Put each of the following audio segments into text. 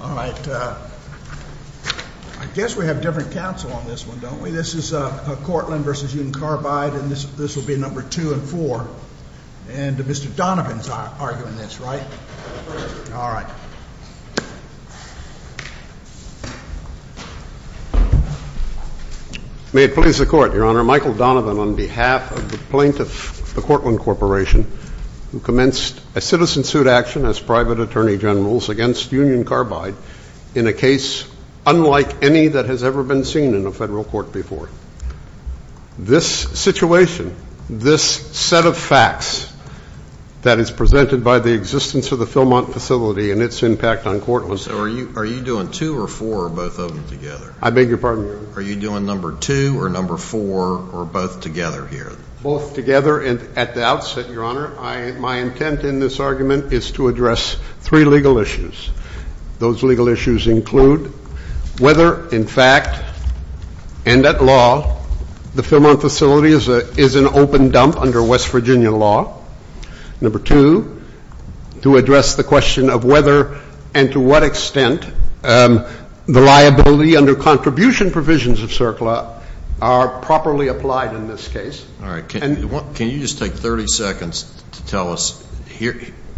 All right, I guess we have different counsel on this one, don't we? This is Courtland v. Union Carbide, and this will be number two and four. And Mr. Donovan's arguing this, right? All right. May it please the Court, Your Honor. Michael Donovan, on behalf of the plaintiff, the Courtland Corporation, who commenced a citizen suit action as private attorney general against Union Carbide in a case unlike any that has ever been seen in a federal court before. This situation, this set of facts that is presented by the existence of the Philmont facility and its impact on Courtland Corporation So are you doing two or four, both of them together? I beg your pardon? Are you doing number two or number four, or both together here? Both together at the outset, Your Honor. My intent in this argument is to address three legal issues. Those legal issues include whether, in fact, and at law, the Philmont facility is an open dump under West Virginia law. Number two, to address the question of whether and to what extent the liability under contribution provisions of CERCLA are properly applied in this case. All right. Can you just take 30 seconds to tell us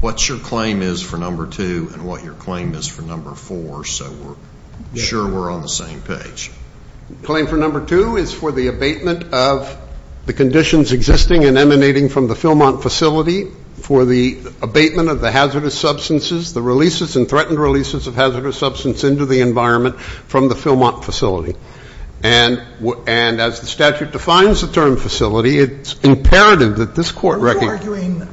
what your claim is for number two and what your claim is for number four so we're sure we're on the same page? Claim for number two is for the abatement of the conditions existing and emanating from the Philmont facility for the abatement of the hazardous substances, the releases and threatened releases of hazardous substance into the environment from the Philmont facility. And as the statute defines the term facility, it's imperative that this court recognize Are you arguing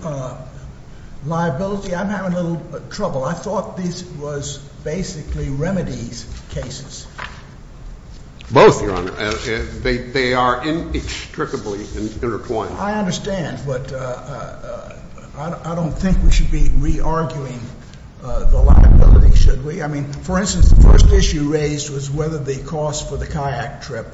liability? I'm having a little trouble. I thought this was basically remedies cases. Both, Your Honor. They are inextricably intertwined. I understand, but I don't think we should be re-arguing the liability, should we? I mean, for instance, the first issue raised was whether the cost for the kayak trip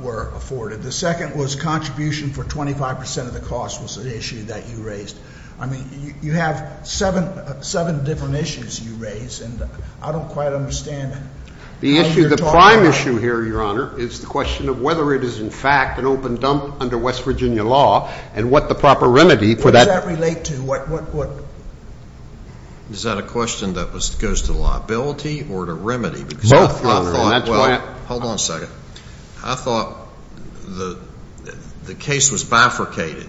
were afforded. The second was contribution for 25 percent of the cost was an issue that you raised. I mean, you have seven different issues you raised, and I don't quite understand how you're talking about it. The issue, the prime issue here, Your Honor, is the question of whether it is, in fact, an open dump under West Virginia law and what the proper remedy for that. What does that relate to? Is that a question that goes to liability or to remedy? Both, Your Honor. Hold on a second. I thought the case was bifurcated,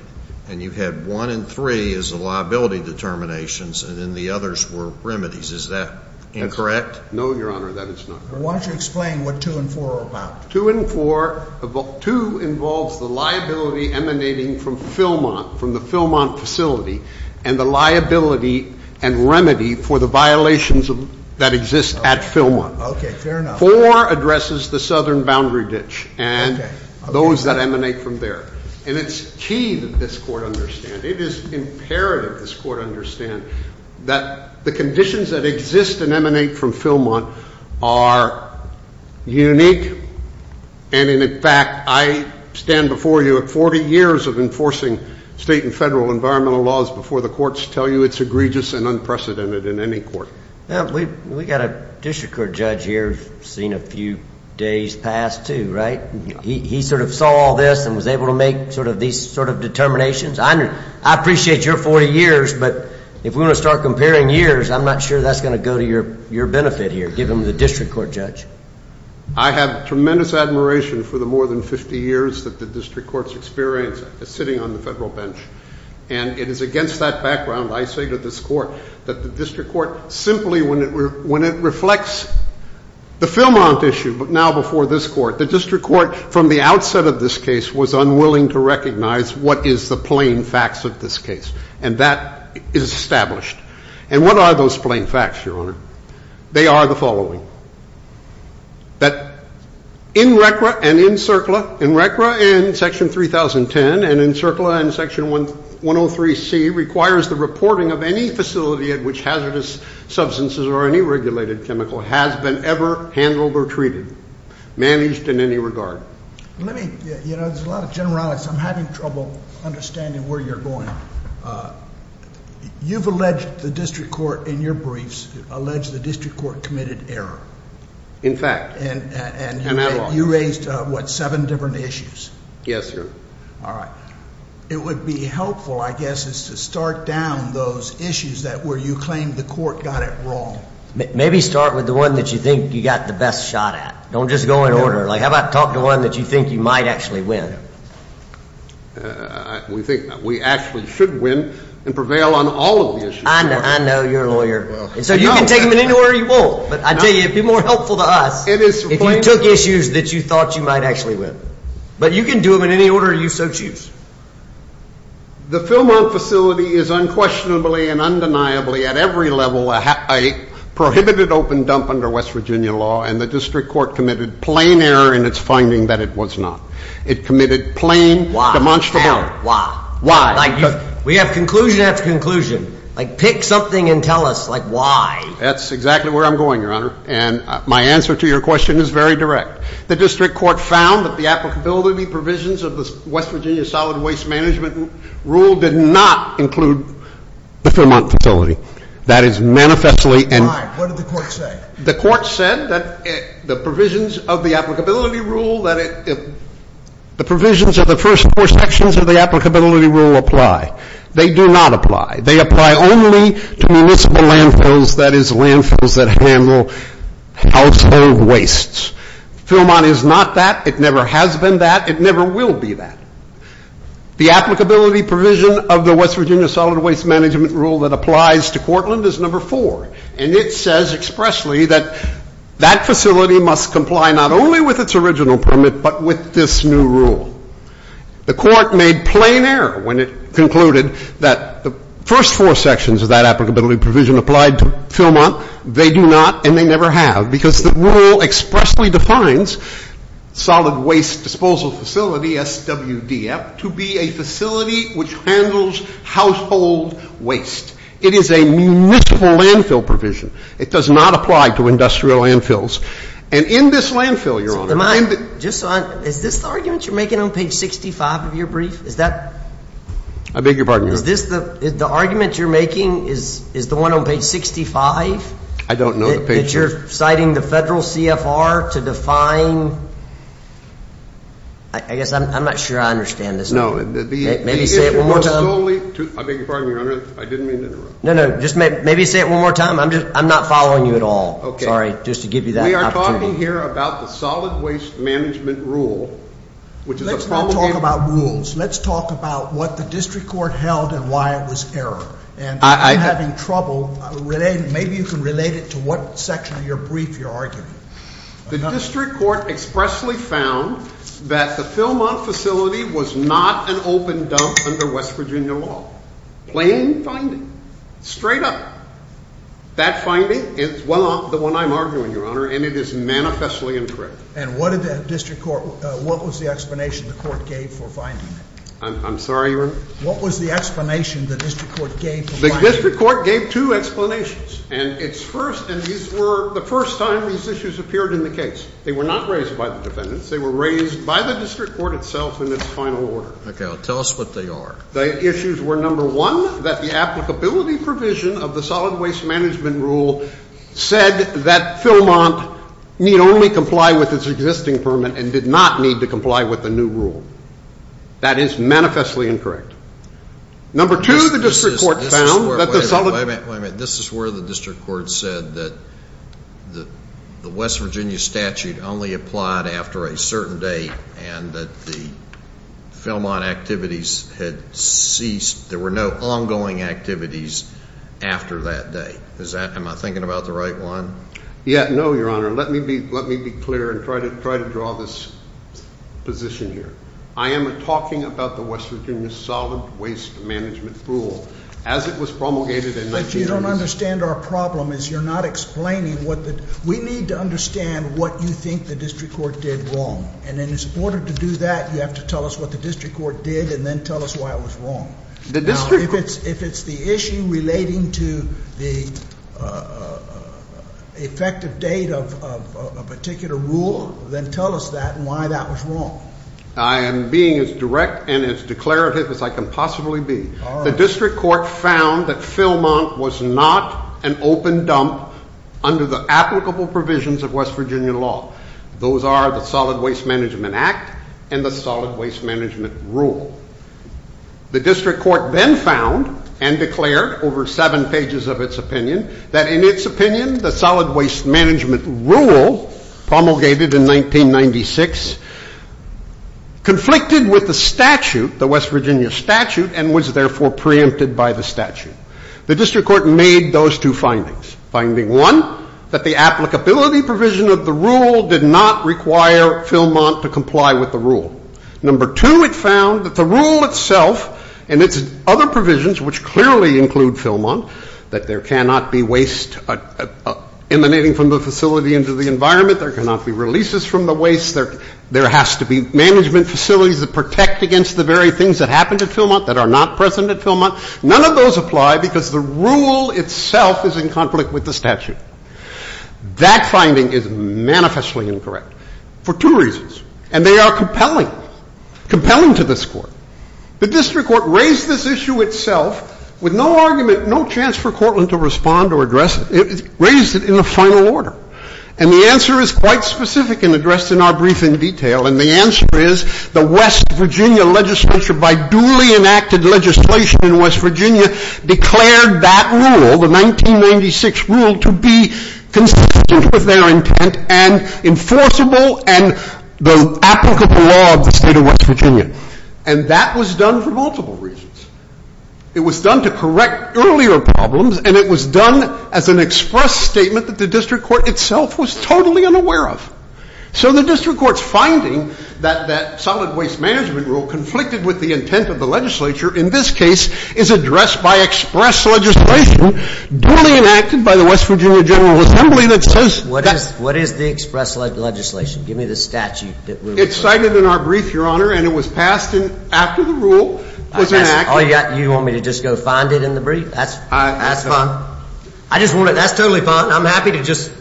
and you had one and three as the liability determinations, and then the others were remedies. Is that incorrect? No, Your Honor, that is not correct. Why don't you explain what two and four are about? Two involves the liability emanating from Philmont, from the Philmont facility, and the liability and remedy for the violations that exist at Philmont. Okay, fair enough. Four addresses the southern boundary ditch and those that emanate from there. And it's key that this Court understand, it is imperative this Court understand, that the conditions that exist and emanate from Philmont are unique, and, in fact, I stand before you at 40 years of enforcing state and federal environmental laws before the courts tell you it's egregious and unprecedented in any court. We've got a district court judge here who's seen a few days pass, too, right? He sort of saw all this and was able to make sort of these sort of determinations. I appreciate your 40 years, but if we're going to start comparing years, I'm not sure that's going to go to your benefit here, given the district court judge. I have tremendous admiration for the more than 50 years that the district court's experienced sitting on the federal bench, and it is against that background I say to this Court that the district court simply, when it reflects the Philmont issue, but now before this Court, the district court from the outset of this case was unwilling to recognize what is the plain facts of this case, and that is established. And what are those plain facts, Your Honor? They are the following, that in RCRA and in CERCLA, in RCRA and Section 3010 and in CERCLA and Section 103C requires the reporting of any facility at which hazardous substances or any regulated chemical has been ever handled or treated, managed in any regard. Let me, you know, there's a lot of generalities. I'm having trouble understanding where you're going. You've alleged the district court in your briefs, alleged the district court committed error. In fact. And you raised, what, seven different issues? Yes, Your Honor. All right. It would be helpful, I guess, is to start down those issues where you claim the court got it wrong. Maybe start with the one that you think you got the best shot at. Don't just go in order. Like, how about talk to one that you think you might actually win? We think we actually should win and prevail on all of the issues. I know. I know. You're a lawyer. So you can take them in any order you want. But I tell you, it would be more helpful to us if you took issues that you thought you might actually win. But you can do them in any order you so choose. The Fillmont facility is unquestionably and undeniably at every level a prohibited open dump under West Virginia law, and the district court committed plain error in its finding that it was not. It committed plain demonstrable. Why? We have conclusion after conclusion. Like, pick something and tell us, like, why. That's exactly where I'm going, Your Honor. And my answer to your question is very direct. The district court found that the applicability provisions of the West Virginia Solid Waste Management Rule did not include the Fillmont facility. That is manifestly. Why? What did the court say? The court said that the provisions of the applicability rule, that the provisions of the first four sections of the applicability rule apply. They do not apply. They apply only to municipal landfills, that is, landfills that handle household wastes. Fillmont is not that. It never has been that. It never will be that. The applicability provision of the West Virginia Solid Waste Management Rule that applies to Cortland is number four. And it says expressly that that facility must comply not only with its original permit but with this new rule. The court made plain error when it concluded that the first four sections of that applicability provision applied to Fillmont. They do not and they never have because the rule expressly defines solid waste disposal facility, SWDF, to be a facility which handles household waste. It is a municipal landfill provision. It does not apply to industrial landfills. And in this landfill, Your Honor. Am I just on? Is this the argument you're making on page 65 of your brief? Is that? I beg your pardon, Your Honor. Is this the argument you're making? Is the one on page 65? I don't know. That you're citing the federal CFR to define? I guess I'm not sure I understand this. No. Maybe say it one more time. I beg your pardon, Your Honor. I didn't mean to interrupt. No, no. Just maybe say it one more time. I'm not following you at all. Okay. Sorry, just to give you that opportunity. We are talking here about the solid waste management rule, which is a problem. Let's not talk about rules. Let's talk about what the district court held and why it was error. And if you're having trouble, maybe you can relate it to what section of your brief you're arguing. The district court expressly found that the Philmont facility was not an open dump under West Virginia law. Plain finding. Straight up. That finding is the one I'm arguing, Your Honor, and it is manifestly incorrect. And what was the explanation the court gave for finding it? I'm sorry, Your Honor? What was the explanation the district court gave for finding it? The district court gave two explanations, and it's first, and these were the first time these issues appeared in the case. They were not raised by the defendants. They were raised by the district court itself in its final order. Okay. Well, tell us what they are. The issues were, number one, that the applicability provision of the solid waste management rule said that Philmont need only comply with its existing permit and did not need to comply with the new rule. That is manifestly incorrect. Number two, the district court found that the solid ---- Wait a minute, wait a minute. This is where the district court said that the West Virginia statute only applied after a certain date and that the Philmont activities had ceased. There were no ongoing activities after that day. Am I thinking about the right one? Yeah. No, Your Honor. Let me be clear and try to draw this position here. I am talking about the West Virginia solid waste management rule as it was promulgated in 1990s. But you don't understand our problem is you're not explaining what the ---- We need to understand what you think the district court did wrong. And in order to do that, you have to tell us what the district court did and then tell us why it was wrong. The district court ---- Now, if it's the issue relating to the effective date of a particular rule, then tell us that and why that was wrong. I am being as direct and as declarative as I can possibly be. The district court found that Philmont was not an open dump under the applicable provisions of West Virginia law. Those are the Solid Waste Management Act and the Solid Waste Management Rule. The district court then found and declared over seven pages of its opinion that in its opinion, the Solid Waste Management Rule promulgated in 1996 conflicted with the statute, the West Virginia statute, and was therefore preempted by the statute. The district court made those two findings. Finding one, that the applicability provision of the rule did not require Philmont to comply with the rule. Number two, it found that the rule itself and its other provisions, which clearly include Philmont, that there cannot be waste emanating from the facility into the environment. There cannot be releases from the waste. There has to be management facilities that protect against the very things that happened at Philmont that are not present at Philmont. None of those apply because the rule itself is in conflict with the statute. That finding is manifestly incorrect for two reasons, and they are compelling, compelling to this court. The district court raised this issue itself with no argument, no chance for Cortland to respond or address it. It raised it in a final order. And the answer is quite specific and addressed in our briefing detail. And the answer is the West Virginia legislature, by duly enacted legislation in West Virginia, declared that rule, the 1996 rule, to be consistent with their intent and enforceable and the applicable law of the state of West Virginia. And that was done for multiple reasons. It was done to correct earlier problems, and it was done as an express statement that the district court itself was totally unaware of. So the district court's finding that that solid waste management rule conflicted with the intent of the legislature in this case is addressed by express legislation duly enacted by the West Virginia General Assembly that says that's the case. What is the express legislation? Give me the statute. It's cited in our brief, Your Honor, and it was passed after the rule was enacted. You want me to just go find it in the brief? That's fine. That's totally fine. I'm happy to just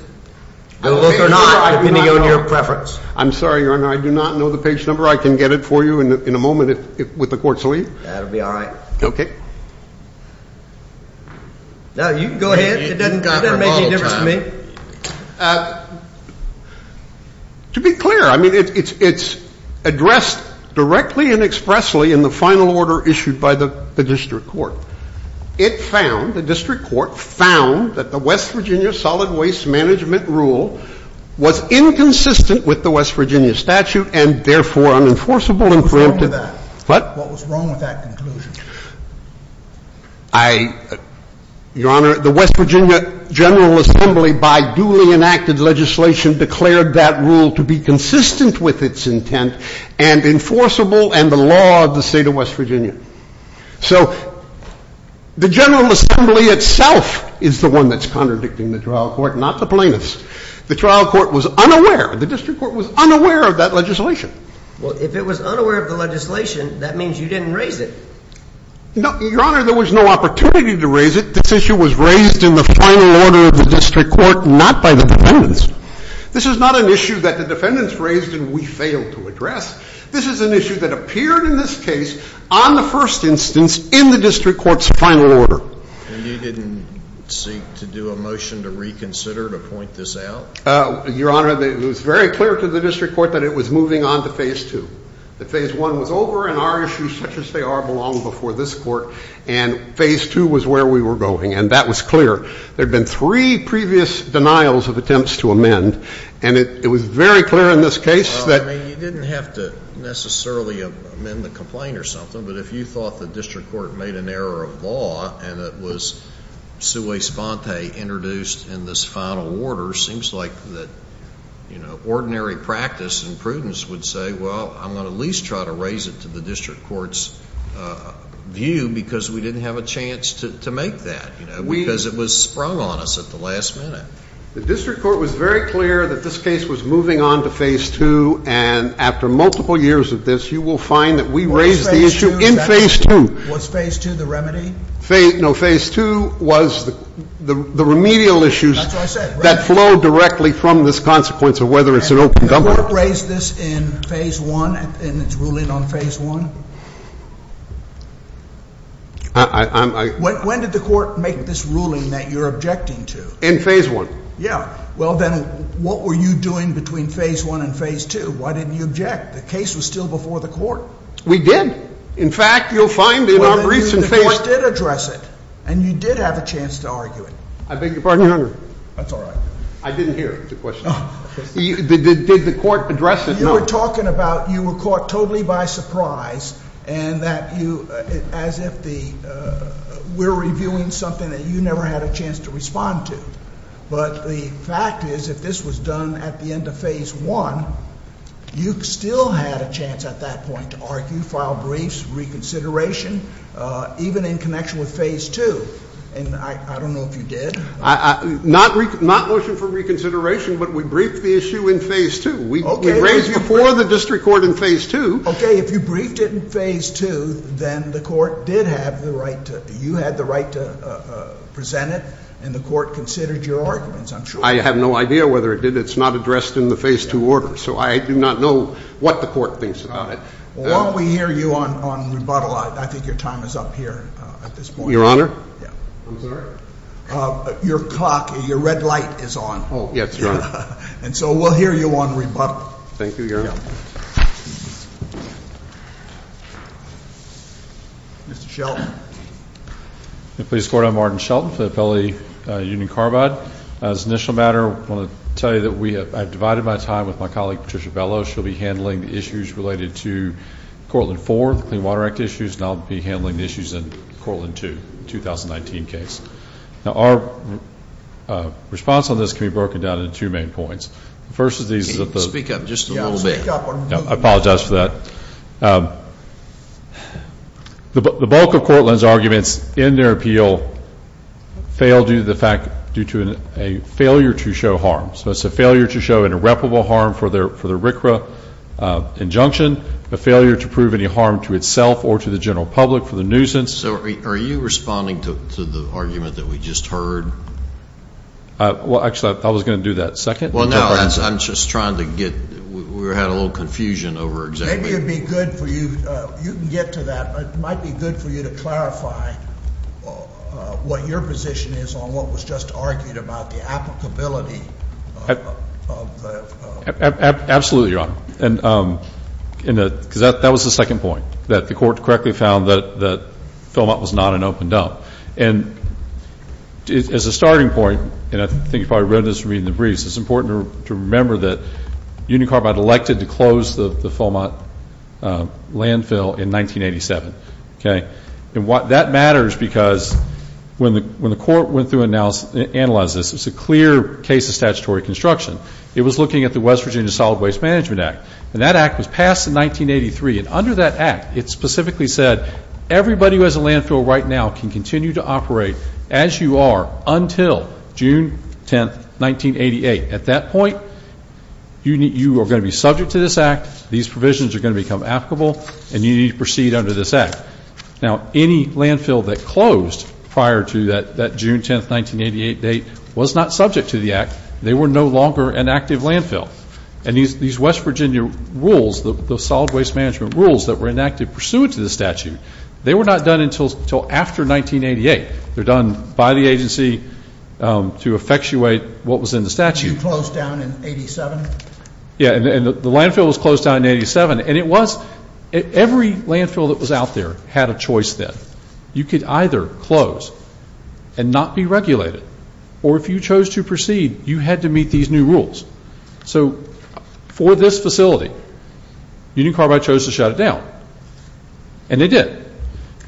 go look or not, depending on your preference. I'm sorry, Your Honor. I do not know the page number. I can get it for you in a moment with the court's leave. That will be all right. Okay. You can go ahead. It doesn't make any difference to me. To be clear, I mean, it's addressed directly and expressly in the final order issued by the district court. It found, the district court found, that the West Virginia solid waste management rule was inconsistent with the West Virginia statute and therefore unenforceable and preemptive. What was wrong with that? What? What was wrong with that conclusion? Your Honor, the West Virginia General Assembly, by duly enacted legislation, declared that rule to be consistent with its intent and enforceable and the law of the state of West Virginia. So the General Assembly itself is the one that's contradicting the trial court, not the plaintiffs. The trial court was unaware. The district court was unaware of that legislation. Well, if it was unaware of the legislation, that means you didn't raise it. No, Your Honor, there was no opportunity to raise it. This issue was raised in the final order of the district court, not by the defendants. This is not an issue that the defendants raised and we failed to address. This is an issue that appeared in this case on the first instance in the district court's final order. And you didn't seek to do a motion to reconsider to point this out? Your Honor, it was very clear to the district court that it was moving on to Phase 2. That Phase 1 was over and our issues, such as they are, belong before this court, and Phase 2 was where we were going, and that was clear. There had been three previous denials of attempts to amend, and it was very clear in this case that you didn't have to necessarily amend the complaint or something, but if you thought the district court made an error of law and it was sui sponte introduced in this final order, it seems like ordinary practice and prudence would say, well, I'm going to at least try to raise it to the district court's view because we didn't have a chance to make that, because it was sprung on us at the last minute. The district court was very clear that this case was moving on to Phase 2, and after multiple years of this, you will find that we raised the issue in Phase 2. Was Phase 2 the remedy? No, Phase 2 was the remedial issues. That's what I said. That flowed directly from this consequence of whether it's an open government. And the court raised this in Phase 1 and its ruling on Phase 1? I'm, I'm, I'm. When did the court make this ruling that you're objecting to? In Phase 1. Yeah. Well, then what were you doing between Phase 1 and Phase 2? Why didn't you object? The case was still before the court. We did. In fact, you'll find in our briefs in Phase 2. Well, then the court did address it, and you did have a chance to argue it. I beg your pardon? That's all right. I didn't hear the question. Did the court address it? You were talking about you were caught totally by surprise, and that you, as if the, we're reviewing something that you never had a chance to respond to. But the fact is, if this was done at the end of Phase 1, you still had a chance at that point to argue, file briefs, reconsideration, even in connection with Phase 2. And I don't know if you did. Not motion for reconsideration, but we briefed the issue in Phase 2. Okay. We raised it before the district court in Phase 2. Okay. If you briefed it in Phase 2, then the court did have the right to, you had the right to present it, and the court considered your arguments, I'm sure. I have no idea whether it did. It's not addressed in the Phase 2 order, so I do not know what the court thinks about it. Well, while we hear you on rebuttal, I think your time is up here at this point. Your Honor? I'm sorry? Your clock, your red light is on. Oh, yes, Your Honor. And so we'll hear you on rebuttal. Thank you, Your Honor. Mr. Shelton. Police Court, I'm Martin Shelton for the Appellate Union Carbide. As an initial matter, I want to tell you that I've divided my time with my colleague, Patricia Bellows. She'll be handling the issues related to Cortland 4, the Clean Water Act issues, and I'll be handling the issues in Cortland 2, the 2019 case. Now, our response on this can be broken down into two main points. The first of these is that the — Speak up just a little bit. Yeah, I'll speak up. I apologize for that. The bulk of Cortland's arguments in their appeal fail due to the fact, due to a failure to show harm. So it's a failure to show an irreparable harm for the RCRA injunction, a failure to prove any harm to itself or to the general public for the nuisance. So are you responding to the argument that we just heard? Well, actually, I was going to do that second. Well, no, I'm just trying to get — we had a little confusion over exactly — Maybe it would be good for you — you can get to that, but it might be good for you to clarify what your position is on what was just argued about, the applicability of the — Absolutely, Your Honor, because that was the second point, that the court correctly found that Philmont was not an open dump. And as a starting point, and I think you've probably read this from reading the briefs, it's important to remember that Union Carbide elected to close the Philmont landfill in 1987, okay? And that matters because when the court went through and analyzed this, it's a clear case of statutory construction. It was looking at the West Virginia Solid Waste Management Act, and that act was passed in 1983. And under that act, it specifically said, everybody who has a landfill right now can continue to operate as you are until June 10, 1988. At that point, you are going to be subject to this act, these provisions are going to become applicable, and you need to proceed under this act. Now, any landfill that closed prior to that June 10, 1988 date was not subject to the act. They were no longer an active landfill. And these West Virginia rules, the solid waste management rules that were enacted pursuant to the statute, they were not done until after 1988. They're done by the agency to effectuate what was in the statute. You closed down in 87? Yeah, and the landfill was closed down in 87. And it was — every landfill that was out there had a choice then. You could either close and not be regulated, or if you chose to proceed, you had to meet these new rules. So for this facility, Union Carbide chose to shut it down, and they did.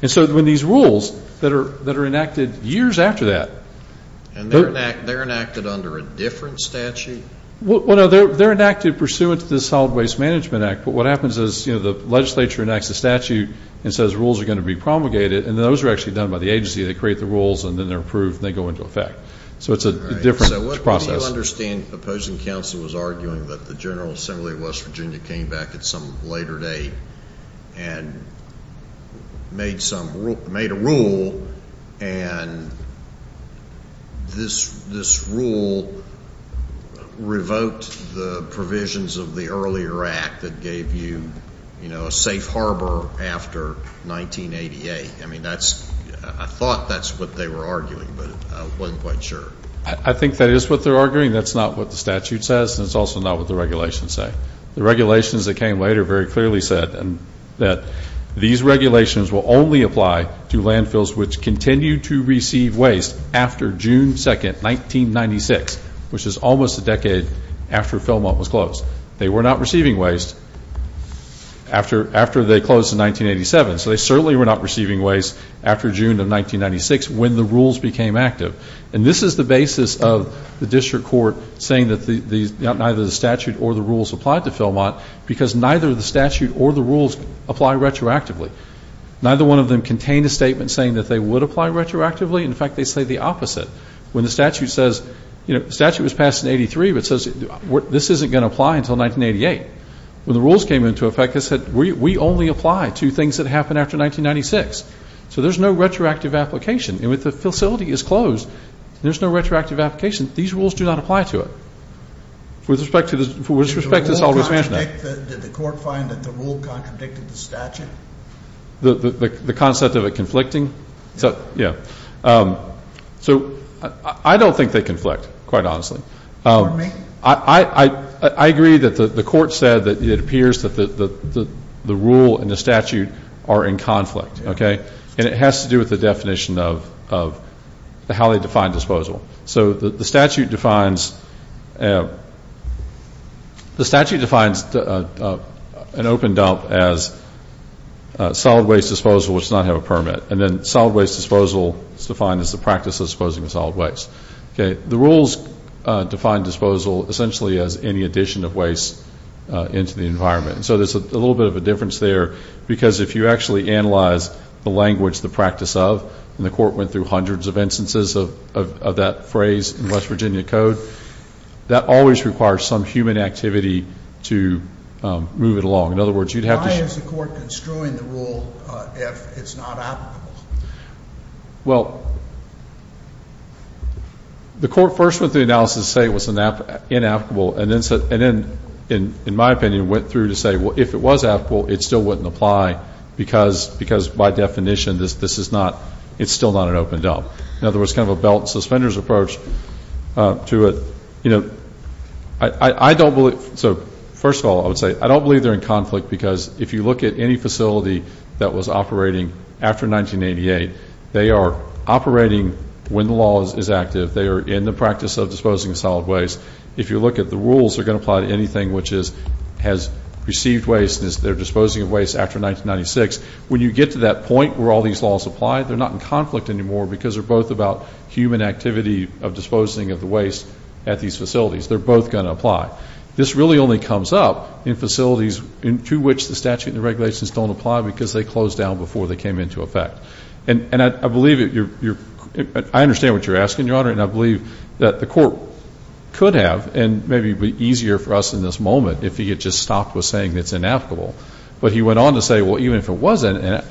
And so when these rules that are enacted years after that — And they're enacted under a different statute? Well, no, they're enacted pursuant to the Solid Waste Management Act, but what happens is the legislature enacts a statute and says rules are going to be promulgated, and those are actually done by the agency. They create the rules, and then they're approved, and they go into effect. So it's a different process. So what do you understand? Opposing counsel was arguing that the General Assembly of West Virginia came back at some later date and made a rule, and this rule revoked the provisions of the earlier act that gave you, you know, a safe harbor after 1988. I mean, that's — I thought that's what they were arguing, but I wasn't quite sure. I think that is what they're arguing. That's not what the statute says, and it's also not what the regulations say. The regulations that came later very clearly said that these regulations will only apply to landfills which continue to receive waste after June 2, 1996, which is almost a decade after Fillmont was closed. They were not receiving waste after they closed in 1987, so they certainly were not receiving waste after June of 1996 when the rules became active. And this is the basis of the district court saying that neither the statute or the rules applied to Fillmont because neither the statute or the rules apply retroactively. Neither one of them contained a statement saying that they would apply retroactively. In fact, they say the opposite. When the statute says — you know, the statute was passed in 83, but it says this isn't going to apply until 1988. When the rules came into effect, it said we only apply to things that happen after 1996. So there's no retroactive application. And with the facility is closed, there's no retroactive application. These rules do not apply to it with respect to the — with respect to solid waste management. Did the court find that the rule contradicted the statute? The concept of it conflicting? Yeah. So I don't think they conflict, quite honestly. Pardon me? I agree that the court said that it appears that the rule and the statute are in conflict. Okay? And it has to do with the definition of how they define disposal. So the statute defines — the statute defines an open dump as solid waste disposal which does not have a permit. And then solid waste disposal is defined as the practice of disposing of solid waste. Okay? The rules define disposal essentially as any addition of waste into the environment. So there's a little bit of a difference there because if you actually analyze the language, the practice of, and the court went through hundreds of instances of that phrase in West Virginia code, that always requires some human activity to move it along. In other words, you'd have to — Why is the court construing the rule if it's not applicable? Well, the court first went through the analysis to say it was inapplicable, and then, in my opinion, went through to say, well, if it was applicable, it still wouldn't apply because, by definition, this is not — it's still not an open dump. In other words, kind of a belt and suspenders approach to a — you know, I don't believe — so, first of all, I would say I don't believe they're in conflict because if you look at any facility that was operating after 1988, they are operating when the law is active. They are in the practice of disposing of solid waste. If you look at the rules, they're going to apply to anything which has received waste and is their disposing of waste after 1996. When you get to that point where all these laws apply, they're not in conflict anymore because they're both about human activity of disposing of the waste at these facilities. They're both going to apply. This really only comes up in facilities to which the statute and the regulations don't apply because they closed down before they came into effect. And I believe that you're — I understand what you're asking, Your Honor, and I believe that the court could have, and maybe it would be easier for us in this moment, if he had just stopped with saying it's inapplicable. But he went on to say, well, even if it wasn't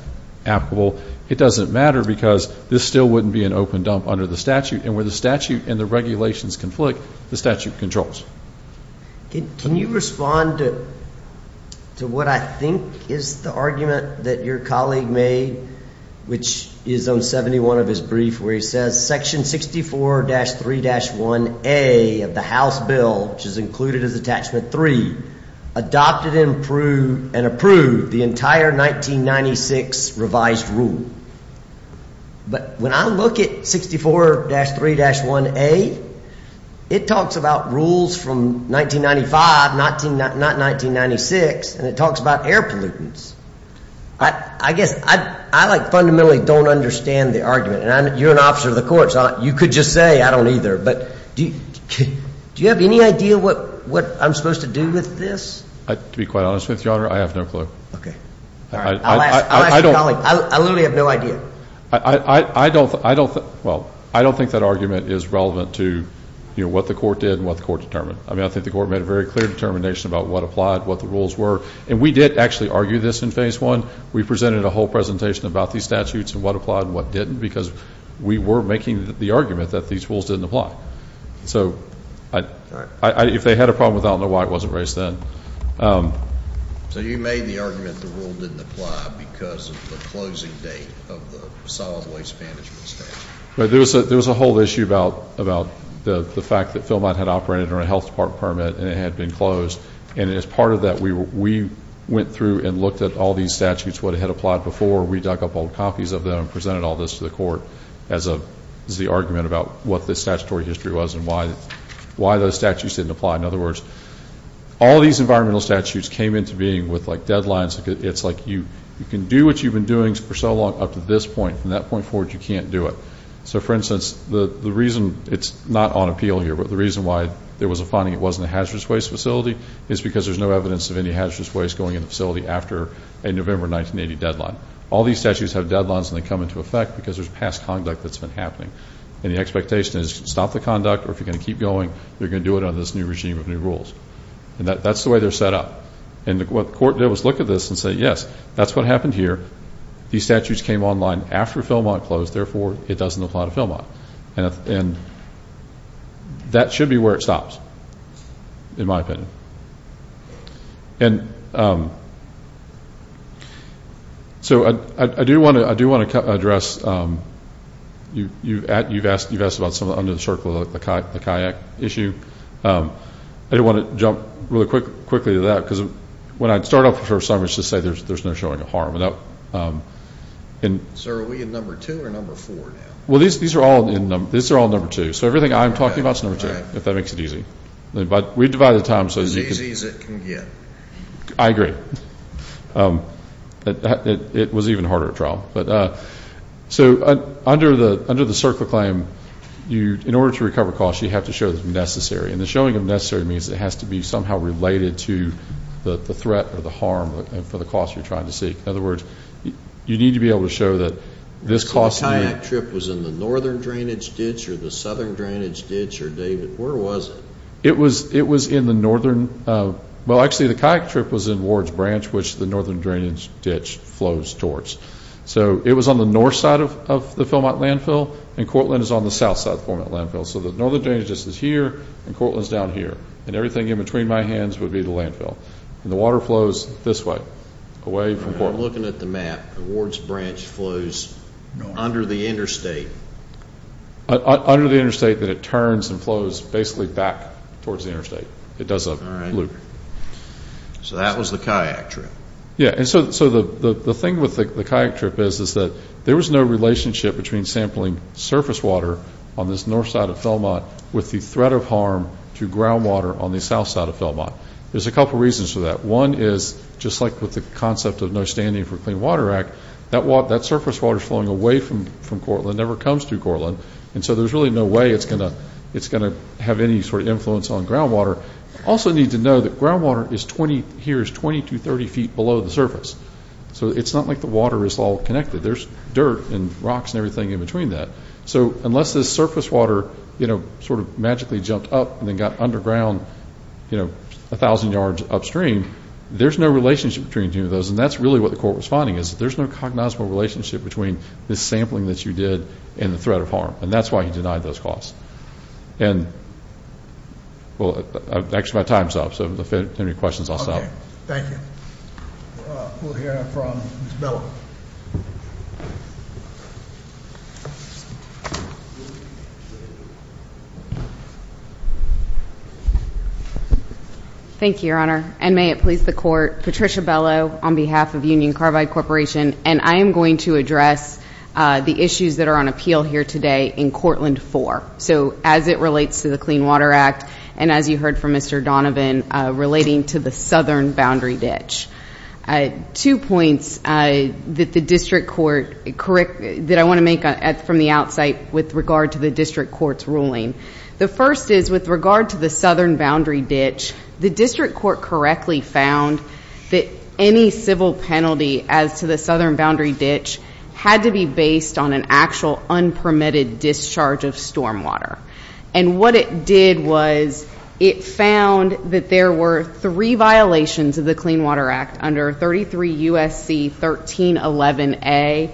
applicable, it doesn't matter because this still wouldn't be an open dump under the statute. And where the statute and the regulations conflict, the statute controls. Can you respond to what I think is the argument that your colleague made, which is on 71 of his brief, where he says, Section 64-3-1A of the House Bill, which is included as Attachment 3, adopted and approved the entire 1996 revised rule. But when I look at 64-3-1A, it talks about rules from 1995, not 1996, and it talks about air pollutants. I guess I like fundamentally don't understand the argument. And you're an officer of the court, so you could just say I don't either. But do you have any idea what I'm supposed to do with this? To be quite honest with you, Your Honor, I have no clue. Okay. I'll ask your colleague. I literally have no idea. I don't think that argument is relevant to what the court did and what the court determined. I mean, I think the court made a very clear determination about what applied, what the rules were. And we did actually argue this in Phase 1. We presented a whole presentation about these statutes and what applied and what didn't because we were making the argument that these rules didn't apply. So if they had a problem with that, I don't know why it wasn't raised then. So you made the argument the rule didn't apply because of the closing date of the solid waste management statute. There was a whole issue about the fact that Philmont had operated under a health department permit and it had been closed. And as part of that, we went through and looked at all these statutes, what had applied before. We dug up old copies of them and presented all this to the court as the argument about what the statutory history was and why those statutes didn't apply. In other words, all these environmental statutes came into being with, like, deadlines. It's like you can do what you've been doing for so long up to this point. From that point forward, you can't do it. So, for instance, the reason it's not on appeal here, but the reason why there was a finding it wasn't a hazardous waste facility, is because there's no evidence of any hazardous waste going in the facility after a November 1980 deadline. All these statutes have deadlines and they come into effect because there's past conduct that's been happening. And the expectation is stop the conduct, or if you're going to keep going, you're going to do it under this new regime of new rules. And that's the way they're set up. And what the court did was look at this and say, yes, that's what happened here. These statutes came online after Philmont closed, therefore it doesn't apply to Philmont. And that should be where it stops, in my opinion. And so I do want to address, you've asked about some of the under the circle, the kayak issue. I do want to jump really quickly to that, because when I start off the first time, it's just to say there's no showing of harm. So are we in number two or number four now? Well, these are all number two. So everything I'm talking about is number two, if that makes it easy. But we divide the time. As easy as it can get. I agree. It was even harder at trial. So under the circle claim, in order to recover costs, you have to show the necessary. And the showing of necessary means it has to be somehow related to the threat or the harm for the cost you're trying to seek. In other words, you need to be able to show that this cost. The kayak trip was in the northern drainage ditch or the southern drainage ditch, or David, where was it? It was in the northern. Well, actually, the kayak trip was in Ward's Branch, which the northern drainage ditch flows towards. So it was on the north side of the Philmont landfill, and Cortland is on the south side of the Philmont landfill. So the northern drainage ditch is here, and Cortland is down here. And everything in between my hands would be the landfill. And the water flows this way, away from Cortland. I'm looking at the map. Ward's Branch flows under the interstate. Under the interstate, then it turns and flows basically back towards the interstate. It does a loop. So that was the kayak trip. Yeah, and so the thing with the kayak trip is that there was no relationship between sampling surface water on this north side of Philmont with the threat of harm to groundwater on the south side of Philmont. There's a couple reasons for that. One is, just like with the concept of No Standing for Clean Water Act, that surface water is flowing away from Cortland, never comes through Cortland. And so there's really no way it's going to have any sort of influence on groundwater. Also need to know that groundwater here is 20 to 30 feet below the surface. So it's not like the water is all connected. There's dirt and rocks and everything in between that. So unless this surface water sort of magically jumped up and then got underground 1,000 yards upstream, there's no relationship between any of those, and that's really what the court was finding, is that there's no cognizable relationship between this sampling that you did and the threat of harm. And that's why he denied those costs. And, well, actually my time's up, so if there are any questions, I'll stop. Okay, thank you. We'll hear from Ms. Bell. Thank you, Your Honor. And may it please the Court, Patricia Bellow on behalf of Union Carbide Corporation, and I am going to address the issues that are on appeal here today in Cortland 4. So as it relates to the Clean Water Act, and as you heard from Mr. Donovan, relating to the southern boundary ditch. Two points that I want to make from the outside with regard to the district court's ruling. The first is, with regard to the southern boundary ditch, the district court correctly found that any civil penalty as to the southern boundary ditch had to be based on an actual unpermitted discharge of stormwater. And what it did was it found that there were three violations of the Clean Water Act under 33 U.S.C. 1311A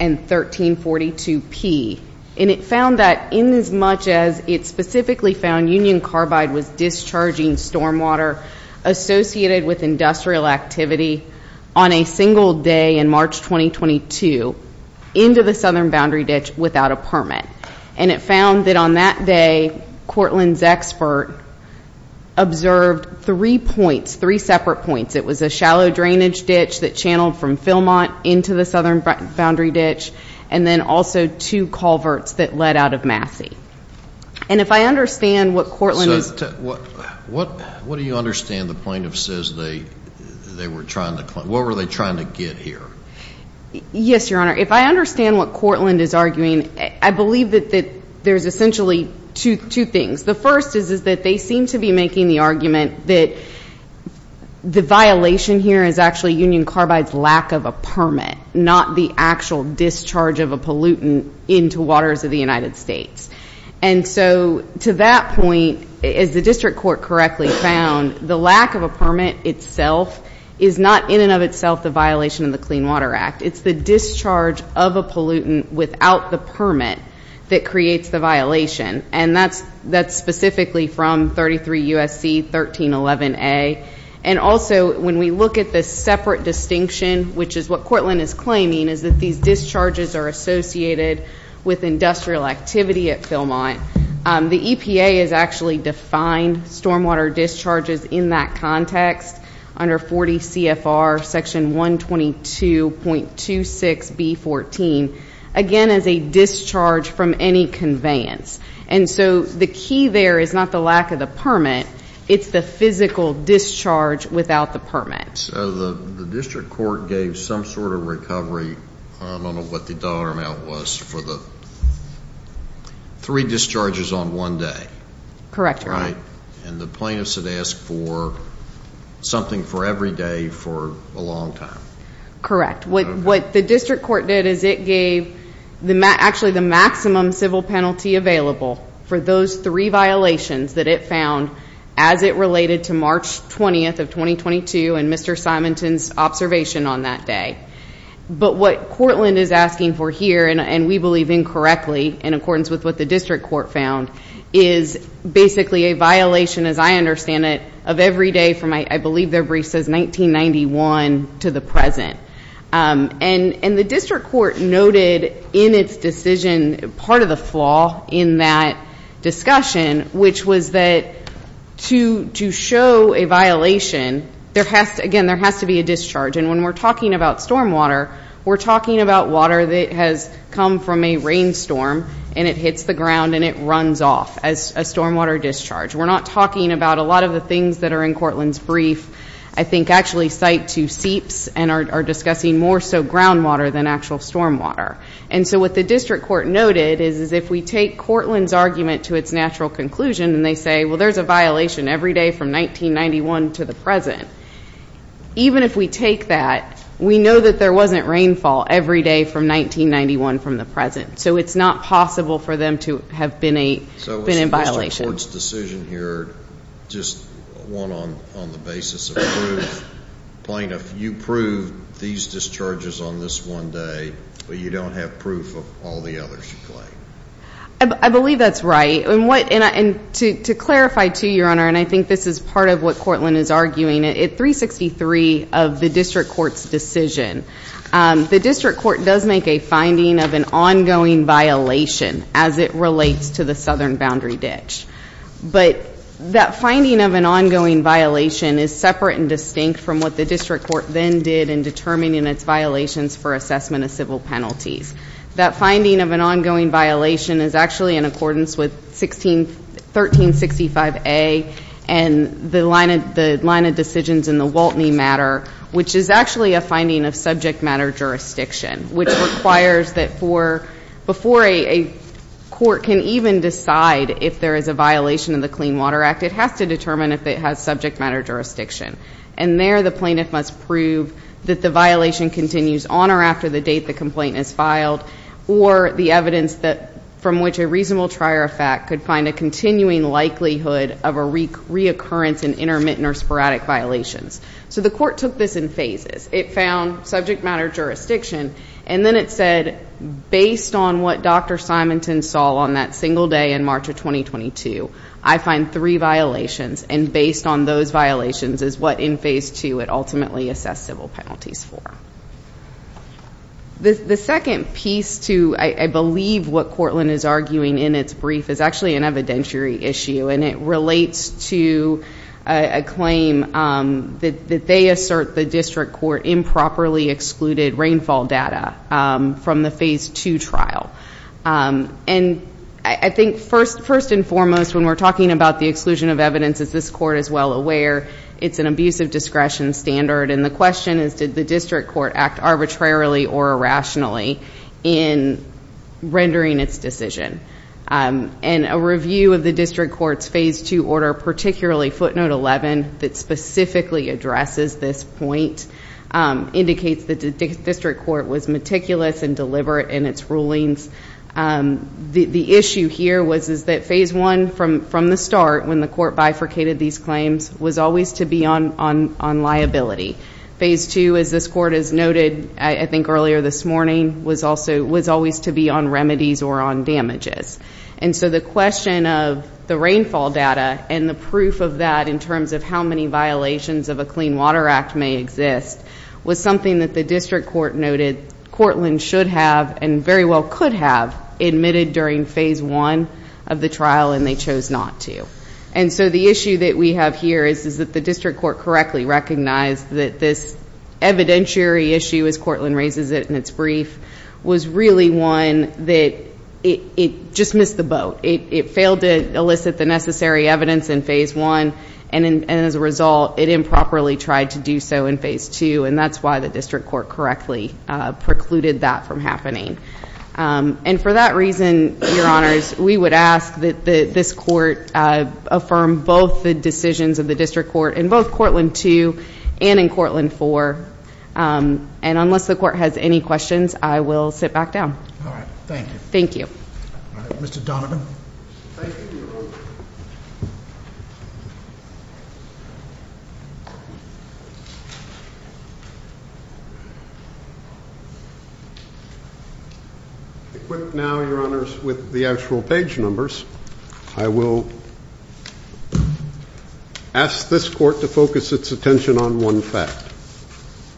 and 1342P. And it found that in as much as it specifically found Union Carbide was discharging stormwater associated with industrial activity on a single day in March 2022 into the southern boundary ditch without a permit. And it found that on that day, Cortland's expert observed three points, three separate points. It was a shallow drainage ditch that channeled from Philmont into the southern boundary ditch, and then also two culverts that led out of Massey. And if I understand what Cortland is to. What do you understand the plaintiff says they were trying to claim? What were they trying to get here? Yes, Your Honor. If I understand what Cortland is arguing, I believe that there's essentially two things. The first is that they seem to be making the argument that the violation here is actually Union Carbide's lack of a permit, not the actual discharge of a pollutant into waters of the United States. And so to that point, as the district court correctly found, the lack of a permit itself is not in and of itself the violation of the Clean Water Act. It's the discharge of a pollutant without the permit that creates the violation. And that's specifically from 33 U.S.C. 1311A. And also when we look at this separate distinction, which is what Cortland is claiming, is that these discharges are associated with industrial activity at Philmont. The EPA has actually defined stormwater discharges in that context under 40 CFR section 122.26B14, again, as a discharge from any conveyance. And so the key there is not the lack of the permit. It's the physical discharge without the permit. So the district court gave some sort of recovery. I don't know what the dollar amount was for the three discharges on one day. And the plaintiffs had asked for something for every day for a long time. Correct. What the district court did is it gave actually the maximum civil penalty available for those three violations that it found as it related to March 20th of 2022 and Mr. Simonton's observation on that day. But what Cortland is asking for here, and we believe incorrectly, in accordance with what the district court found, is basically a violation, as I understand it, of every day from, I believe their brief says, 1991 to the present. And the district court noted in its decision part of the flaw in that discussion, which was that to show a violation, again, there has to be a discharge. And when we're talking about stormwater, we're talking about water that has come from a rainstorm and it hits the ground and it runs off as a stormwater discharge. We're not talking about a lot of the things that are in Cortland's brief, I think, actually cite to seeps and are discussing more so groundwater than actual stormwater. And so what the district court noted is if we take Cortland's argument to its natural conclusion and they say, well, there's a violation every day from 1991 to the present, even if we take that, we know that there wasn't rainfall every day from 1991 from the present. So it's not possible for them to have been in violation. The district court's decision here, just one on the basis of proof. Plaintiff, you prove these discharges on this one day, but you don't have proof of all the others you claim. I believe that's right. And to clarify, too, Your Honor, and I think this is part of what Cortland is arguing, at 363 of the district court's decision, the district court does make a finding of an ongoing violation as it relates to the southern boundary ditch. But that finding of an ongoing violation is separate and distinct from what the district court then did in determining its violations for assessment of civil penalties. That finding of an ongoing violation is actually in accordance with 1365A and the line of decisions in the Waltney matter, which is actually a finding of subject matter jurisdiction, which requires that before a court can even decide if there is a violation of the Clean Water Act, it has to determine if it has subject matter jurisdiction. And there the plaintiff must prove that the violation continues on or after the date the complaint is filed or the evidence from which a reasonable trier of fact could find a continuing likelihood of a reoccurrence in intermittent or sporadic violations. So the court took this in phases. It found subject matter jurisdiction, and then it said, based on what Dr. Simonton saw on that single day in March of 2022, I find three violations, and based on those violations is what in phase two it ultimately assessed civil penalties for. The second piece to, I believe, what Cortland is arguing in its brief is actually an evidentiary issue, and it relates to a claim that they assert the district court improperly excluded rainfall data from the phase two trial. And I think first and foremost, when we're talking about the exclusion of evidence, as this court is well aware, it's an abuse of discretion standard, and the question is, did the district court act arbitrarily or irrationally in rendering its decision? And a review of the district court's phase two order, particularly footnote 11, that specifically addresses this point indicates that the district court was meticulous and deliberate in its rulings. The issue here was that phase one from the start, when the court bifurcated these claims, was always to be on liability. Phase two, as this court has noted, I think earlier this morning, was always to be on remedies or on damages. And so the question of the rainfall data and the proof of that in terms of how many violations of a Clean Water Act may exist was something that the district court noted Cortland should have and very well could have admitted during phase one of the trial, and they chose not to. And so the issue that we have here is that the district court correctly recognized that this evidentiary issue, as Cortland raises it in its brief, was really one that just missed the boat. It failed to elicit the necessary evidence in phase one, and as a result, it improperly tried to do so in phase two, and that's why the district court correctly precluded that from happening. And for that reason, Your Honors, we would ask that this court affirm both the decisions of the district court in both Cortland 2 and in Cortland 4, and unless the court has any questions, I will sit back down. All right, thank you. Thank you. All right, Mr. Donovan. Thank you. Equipped now, Your Honors, with the actual page numbers, I will ask this court to focus its attention on one fact.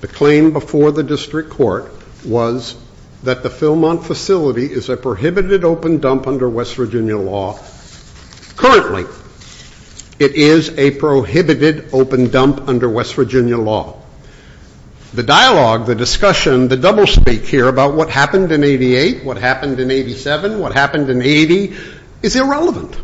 The claim before the district court was that the Philmont facility is a prohibited open dump under West Virginia law. Currently, it is a prohibited open dump under West Virginia law. The dialogue, the discussion, the doublespeak here about what happened in 88, what happened in 87, what happened in 80 is irrelevant.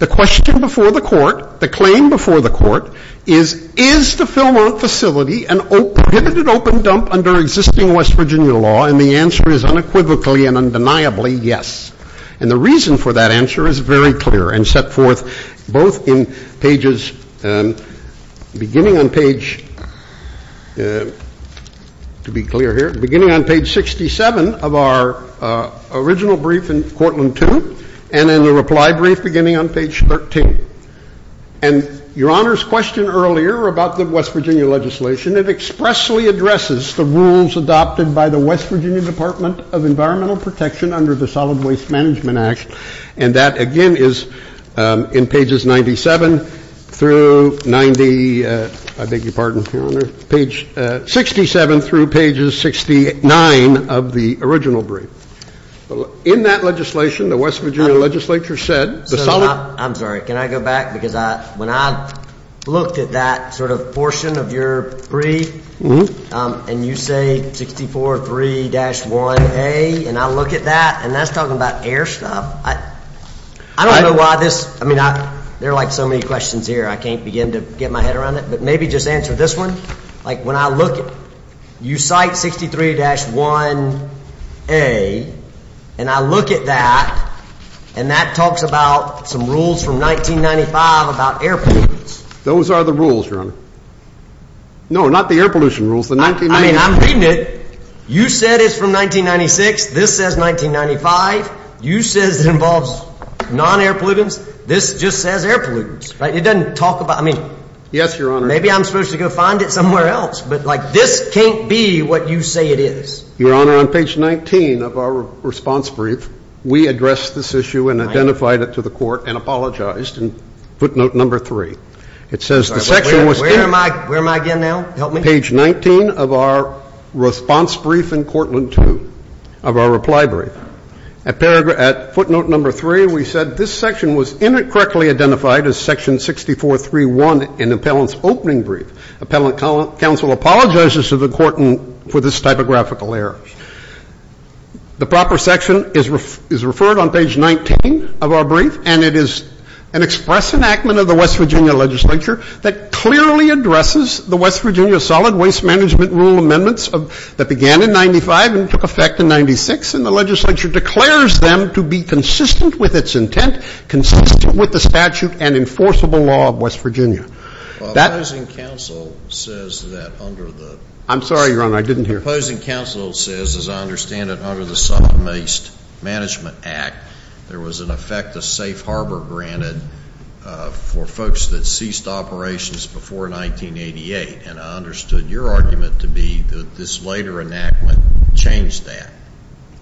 The question before the court, the claim before the court is, is the Philmont facility a prohibited open dump under existing West Virginia law, and the answer is unequivocally and undeniably yes. And the reason for that answer is very clear and set forth both in pages beginning on page, to be clear here, beginning on page 67 of our original brief in Cortland 2 and in the reply brief beginning on page 13. And Your Honors' question earlier about the West Virginia legislation, it expressly addresses the rules adopted by the West Virginia Department of Environmental Protection under the Solid Waste Management Act, and that again is in pages 97 through 90, I beg your pardon, Your Honor, page 67 through pages 69 of the original brief. In that legislation, the West Virginia legislature said the solid I'm sorry, can I go back, because when I looked at that sort of portion of your brief, and you say 64-3-1A, and I look at that, and that's talking about air stuff, I don't know why this, I mean, there are like so many questions here, I can't begin to get my head around it, but maybe just answer this one, like when I look at, you cite 63-1A, and I look at that, and that talks about some rules from 1995 about airplanes. Those are the rules, Your Honor. No, not the air pollution rules. I mean, I'm reading it. You said it's from 1996. This says 1995. You said it involves non-air pollutants. This just says air pollutants, right? It doesn't talk about, I mean, maybe I'm supposed to go find it somewhere else, but like this can't be what you say it is. Your Honor, on page 19 of our response brief, we addressed this issue and identified it to the court and apologized. And footnote number three, it says the section was taken. Where am I again now? Help me. Page 19 of our response brief in Courtland II, of our reply brief. At footnote number three, we said this section was incorrectly identified as section 64-3-1 in appellant's opening brief. Appellant counsel apologizes to the court for this typographical error. The proper section is referred on page 19 of our brief, and it is an express enactment of the West Virginia legislature that clearly addresses the West Virginia Solid Waste Management Rule amendments that began in 1995 and took effect in 1996, and the legislature declares them to be consistent with its intent, consistent with the statute and enforceable law of West Virginia. Opposing counsel says that under the. I'm sorry, Your Honor, I didn't hear. Opposing counsel says, as I understand it, under the Solid Waste Management Act, there was an effect of safe harbor granted for folks that ceased operations before 1988, and I understood your argument to be that this later enactment changed that.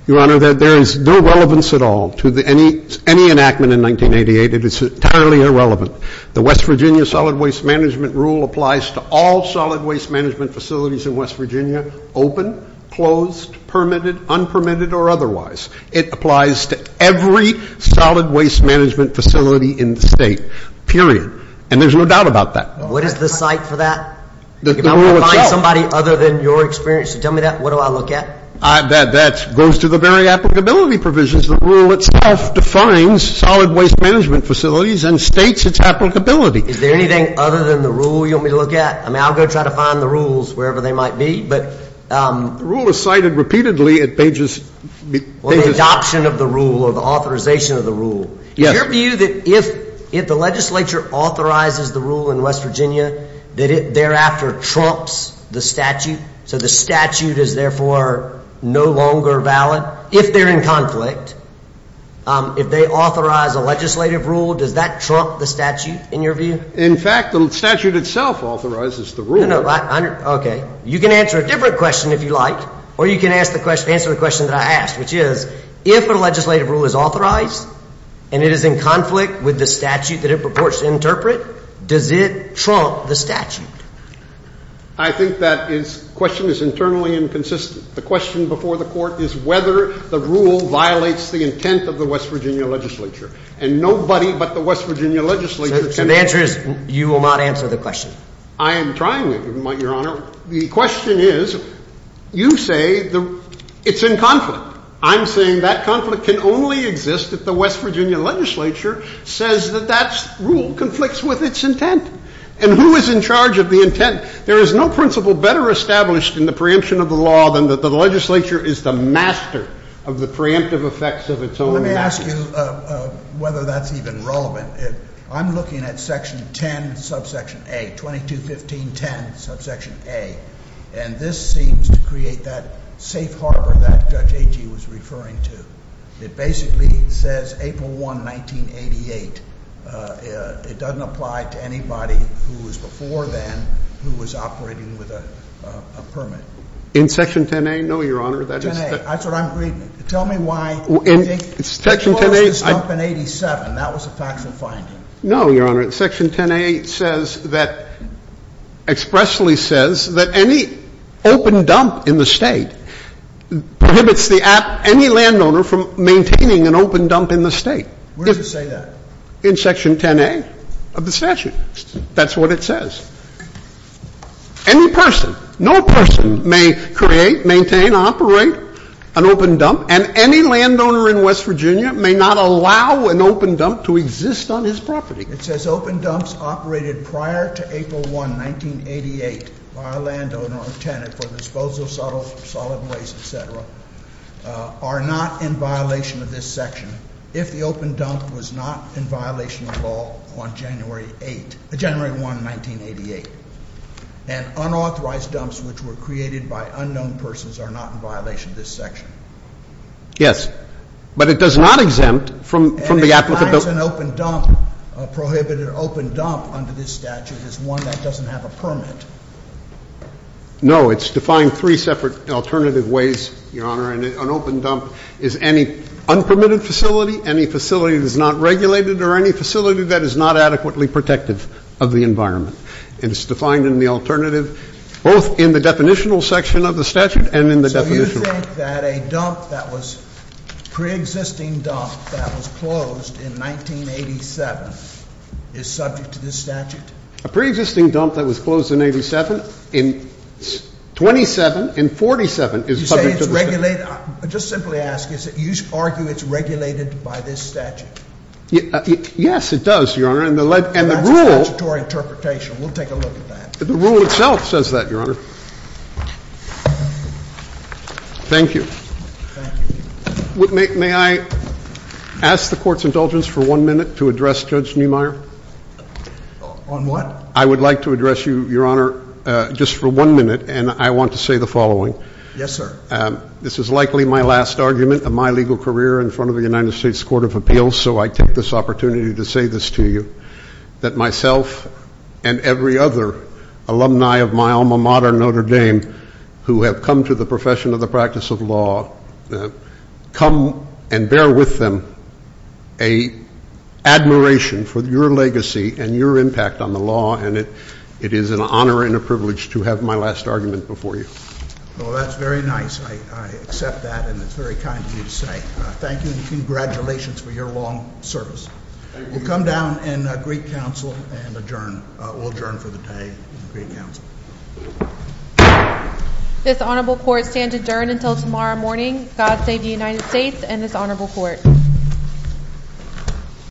Your Honor, there is no relevance at all to any enactment in 1988. It is entirely irrelevant. The West Virginia Solid Waste Management Rule applies to all solid waste management facilities in West Virginia, open, closed, permitted, unpermitted, or otherwise. It applies to every solid waste management facility in the State, period. And there's no doubt about that. What is the cite for that? The rule itself. If I find somebody other than your experience to tell me that, what do I look at? That goes to the very applicability provisions. The rule itself defines solid waste management facilities and states its applicability. Is there anything other than the rule you want me to look at? I mean, I'll go try to find the rules wherever they might be, but. The rule is cited repeatedly at pages. Well, the adoption of the rule or the authorization of the rule. Yes. Is your view that if the legislature authorizes the rule in West Virginia, that it thereafter trumps the statute? So the statute is therefore no longer valid? If they're in conflict, if they authorize a legislative rule, does that trump the statute, in your view? In fact, the statute itself authorizes the rule. No, no. Okay. You can answer a different question if you like, or you can answer the question that I asked, which is, if a legislative rule is authorized and it is in conflict with the statute that it purports to interpret, does it trump the statute? I think that question is internally inconsistent. The question before the Court is whether the rule violates the intent of the West Virginia legislature. And nobody but the West Virginia legislature can. So the answer is you will not answer the question? I am trying to, Your Honor. The question is, you say it's in conflict. I'm saying that conflict can only exist if the West Virginia legislature says that that rule conflicts with its intent. And who is in charge of the intent? There is no principle better established in the preemption of the law than that the legislature is the master of the preemptive effects of its own master. Let me ask you whether that's even relevant. I'm looking at Section 10, subsection A, 221510, subsection A. And this seems to create that safe harbor that Judge Agee was referring to. It basically says April 1, 1988. It doesn't apply to anybody who was before then who was operating with a permit. In Section 10A? No, Your Honor. 10A. That's what I'm reading. Tell me why. Section 10A. They closed this dump in 87. That was a factual finding. No, Your Honor. Section 10A says that, expressly says that any open dump in the State prohibits the app, any landowner, from maintaining an open dump in the State. Where does it say that? In Section 10A of the statute. That's what it says. Any person, no person may create, maintain, operate an open dump, and any landowner in West Virginia may not allow an open dump to exist on his property. It says open dumps operated prior to April 1, 1988 by a landowner or tenant for disposal of solid waste, et cetera, are not in violation of this section. If the open dump was not in violation at all on January 8, January 1, 1988, and unauthorized dumps which were created by unknown persons are not in violation of this section. Yes. But it does not exempt from the applicable. And it defines an open dump, a prohibited open dump under this statute as one that doesn't have a permit. No. It's defined three separate alternative ways, Your Honor. An open dump is any unpermitted facility, any facility that is not regulated, or any facility that is not adequately protective of the environment. It is defined in the alternative both in the definitional section of the statute and in the definitional. So you think that a dump that was preexisting dump that was closed in 1987 is subject to this statute? A preexisting dump that was closed in 87, in 27, in 47 is subject to this statute. You say it's regulated? Just simply ask. You argue it's regulated by this statute? Yes, it does, Your Honor. Well, that's a statutory interpretation. We'll take a look at that. The rule itself says that, Your Honor. Thank you. Thank you. May I ask the Court's indulgence for one minute to address Judge Neumeier? On what? I would like to address you, Your Honor, just for one minute, and I want to say the following. Yes, sir. This is likely my last argument of my legal career in front of the United States Court of Appeals, so I take this opportunity to say this to you, that myself and every other alumni of my alma mater, Notre Dame, who have come to the profession of the practice of law, come and bear with them an admiration for your legacy and your impact on the law, and it is an honor and a privilege to have my last argument before you. Well, that's very nice. I accept that, and it's very kind of you to say. Thank you, and congratulations for your long service. Thank you. You can come down and greet counsel and adjourn. We'll adjourn for the day and greet counsel. This Honorable Court stands adjourned until tomorrow morning. God save the United States and this Honorable Court.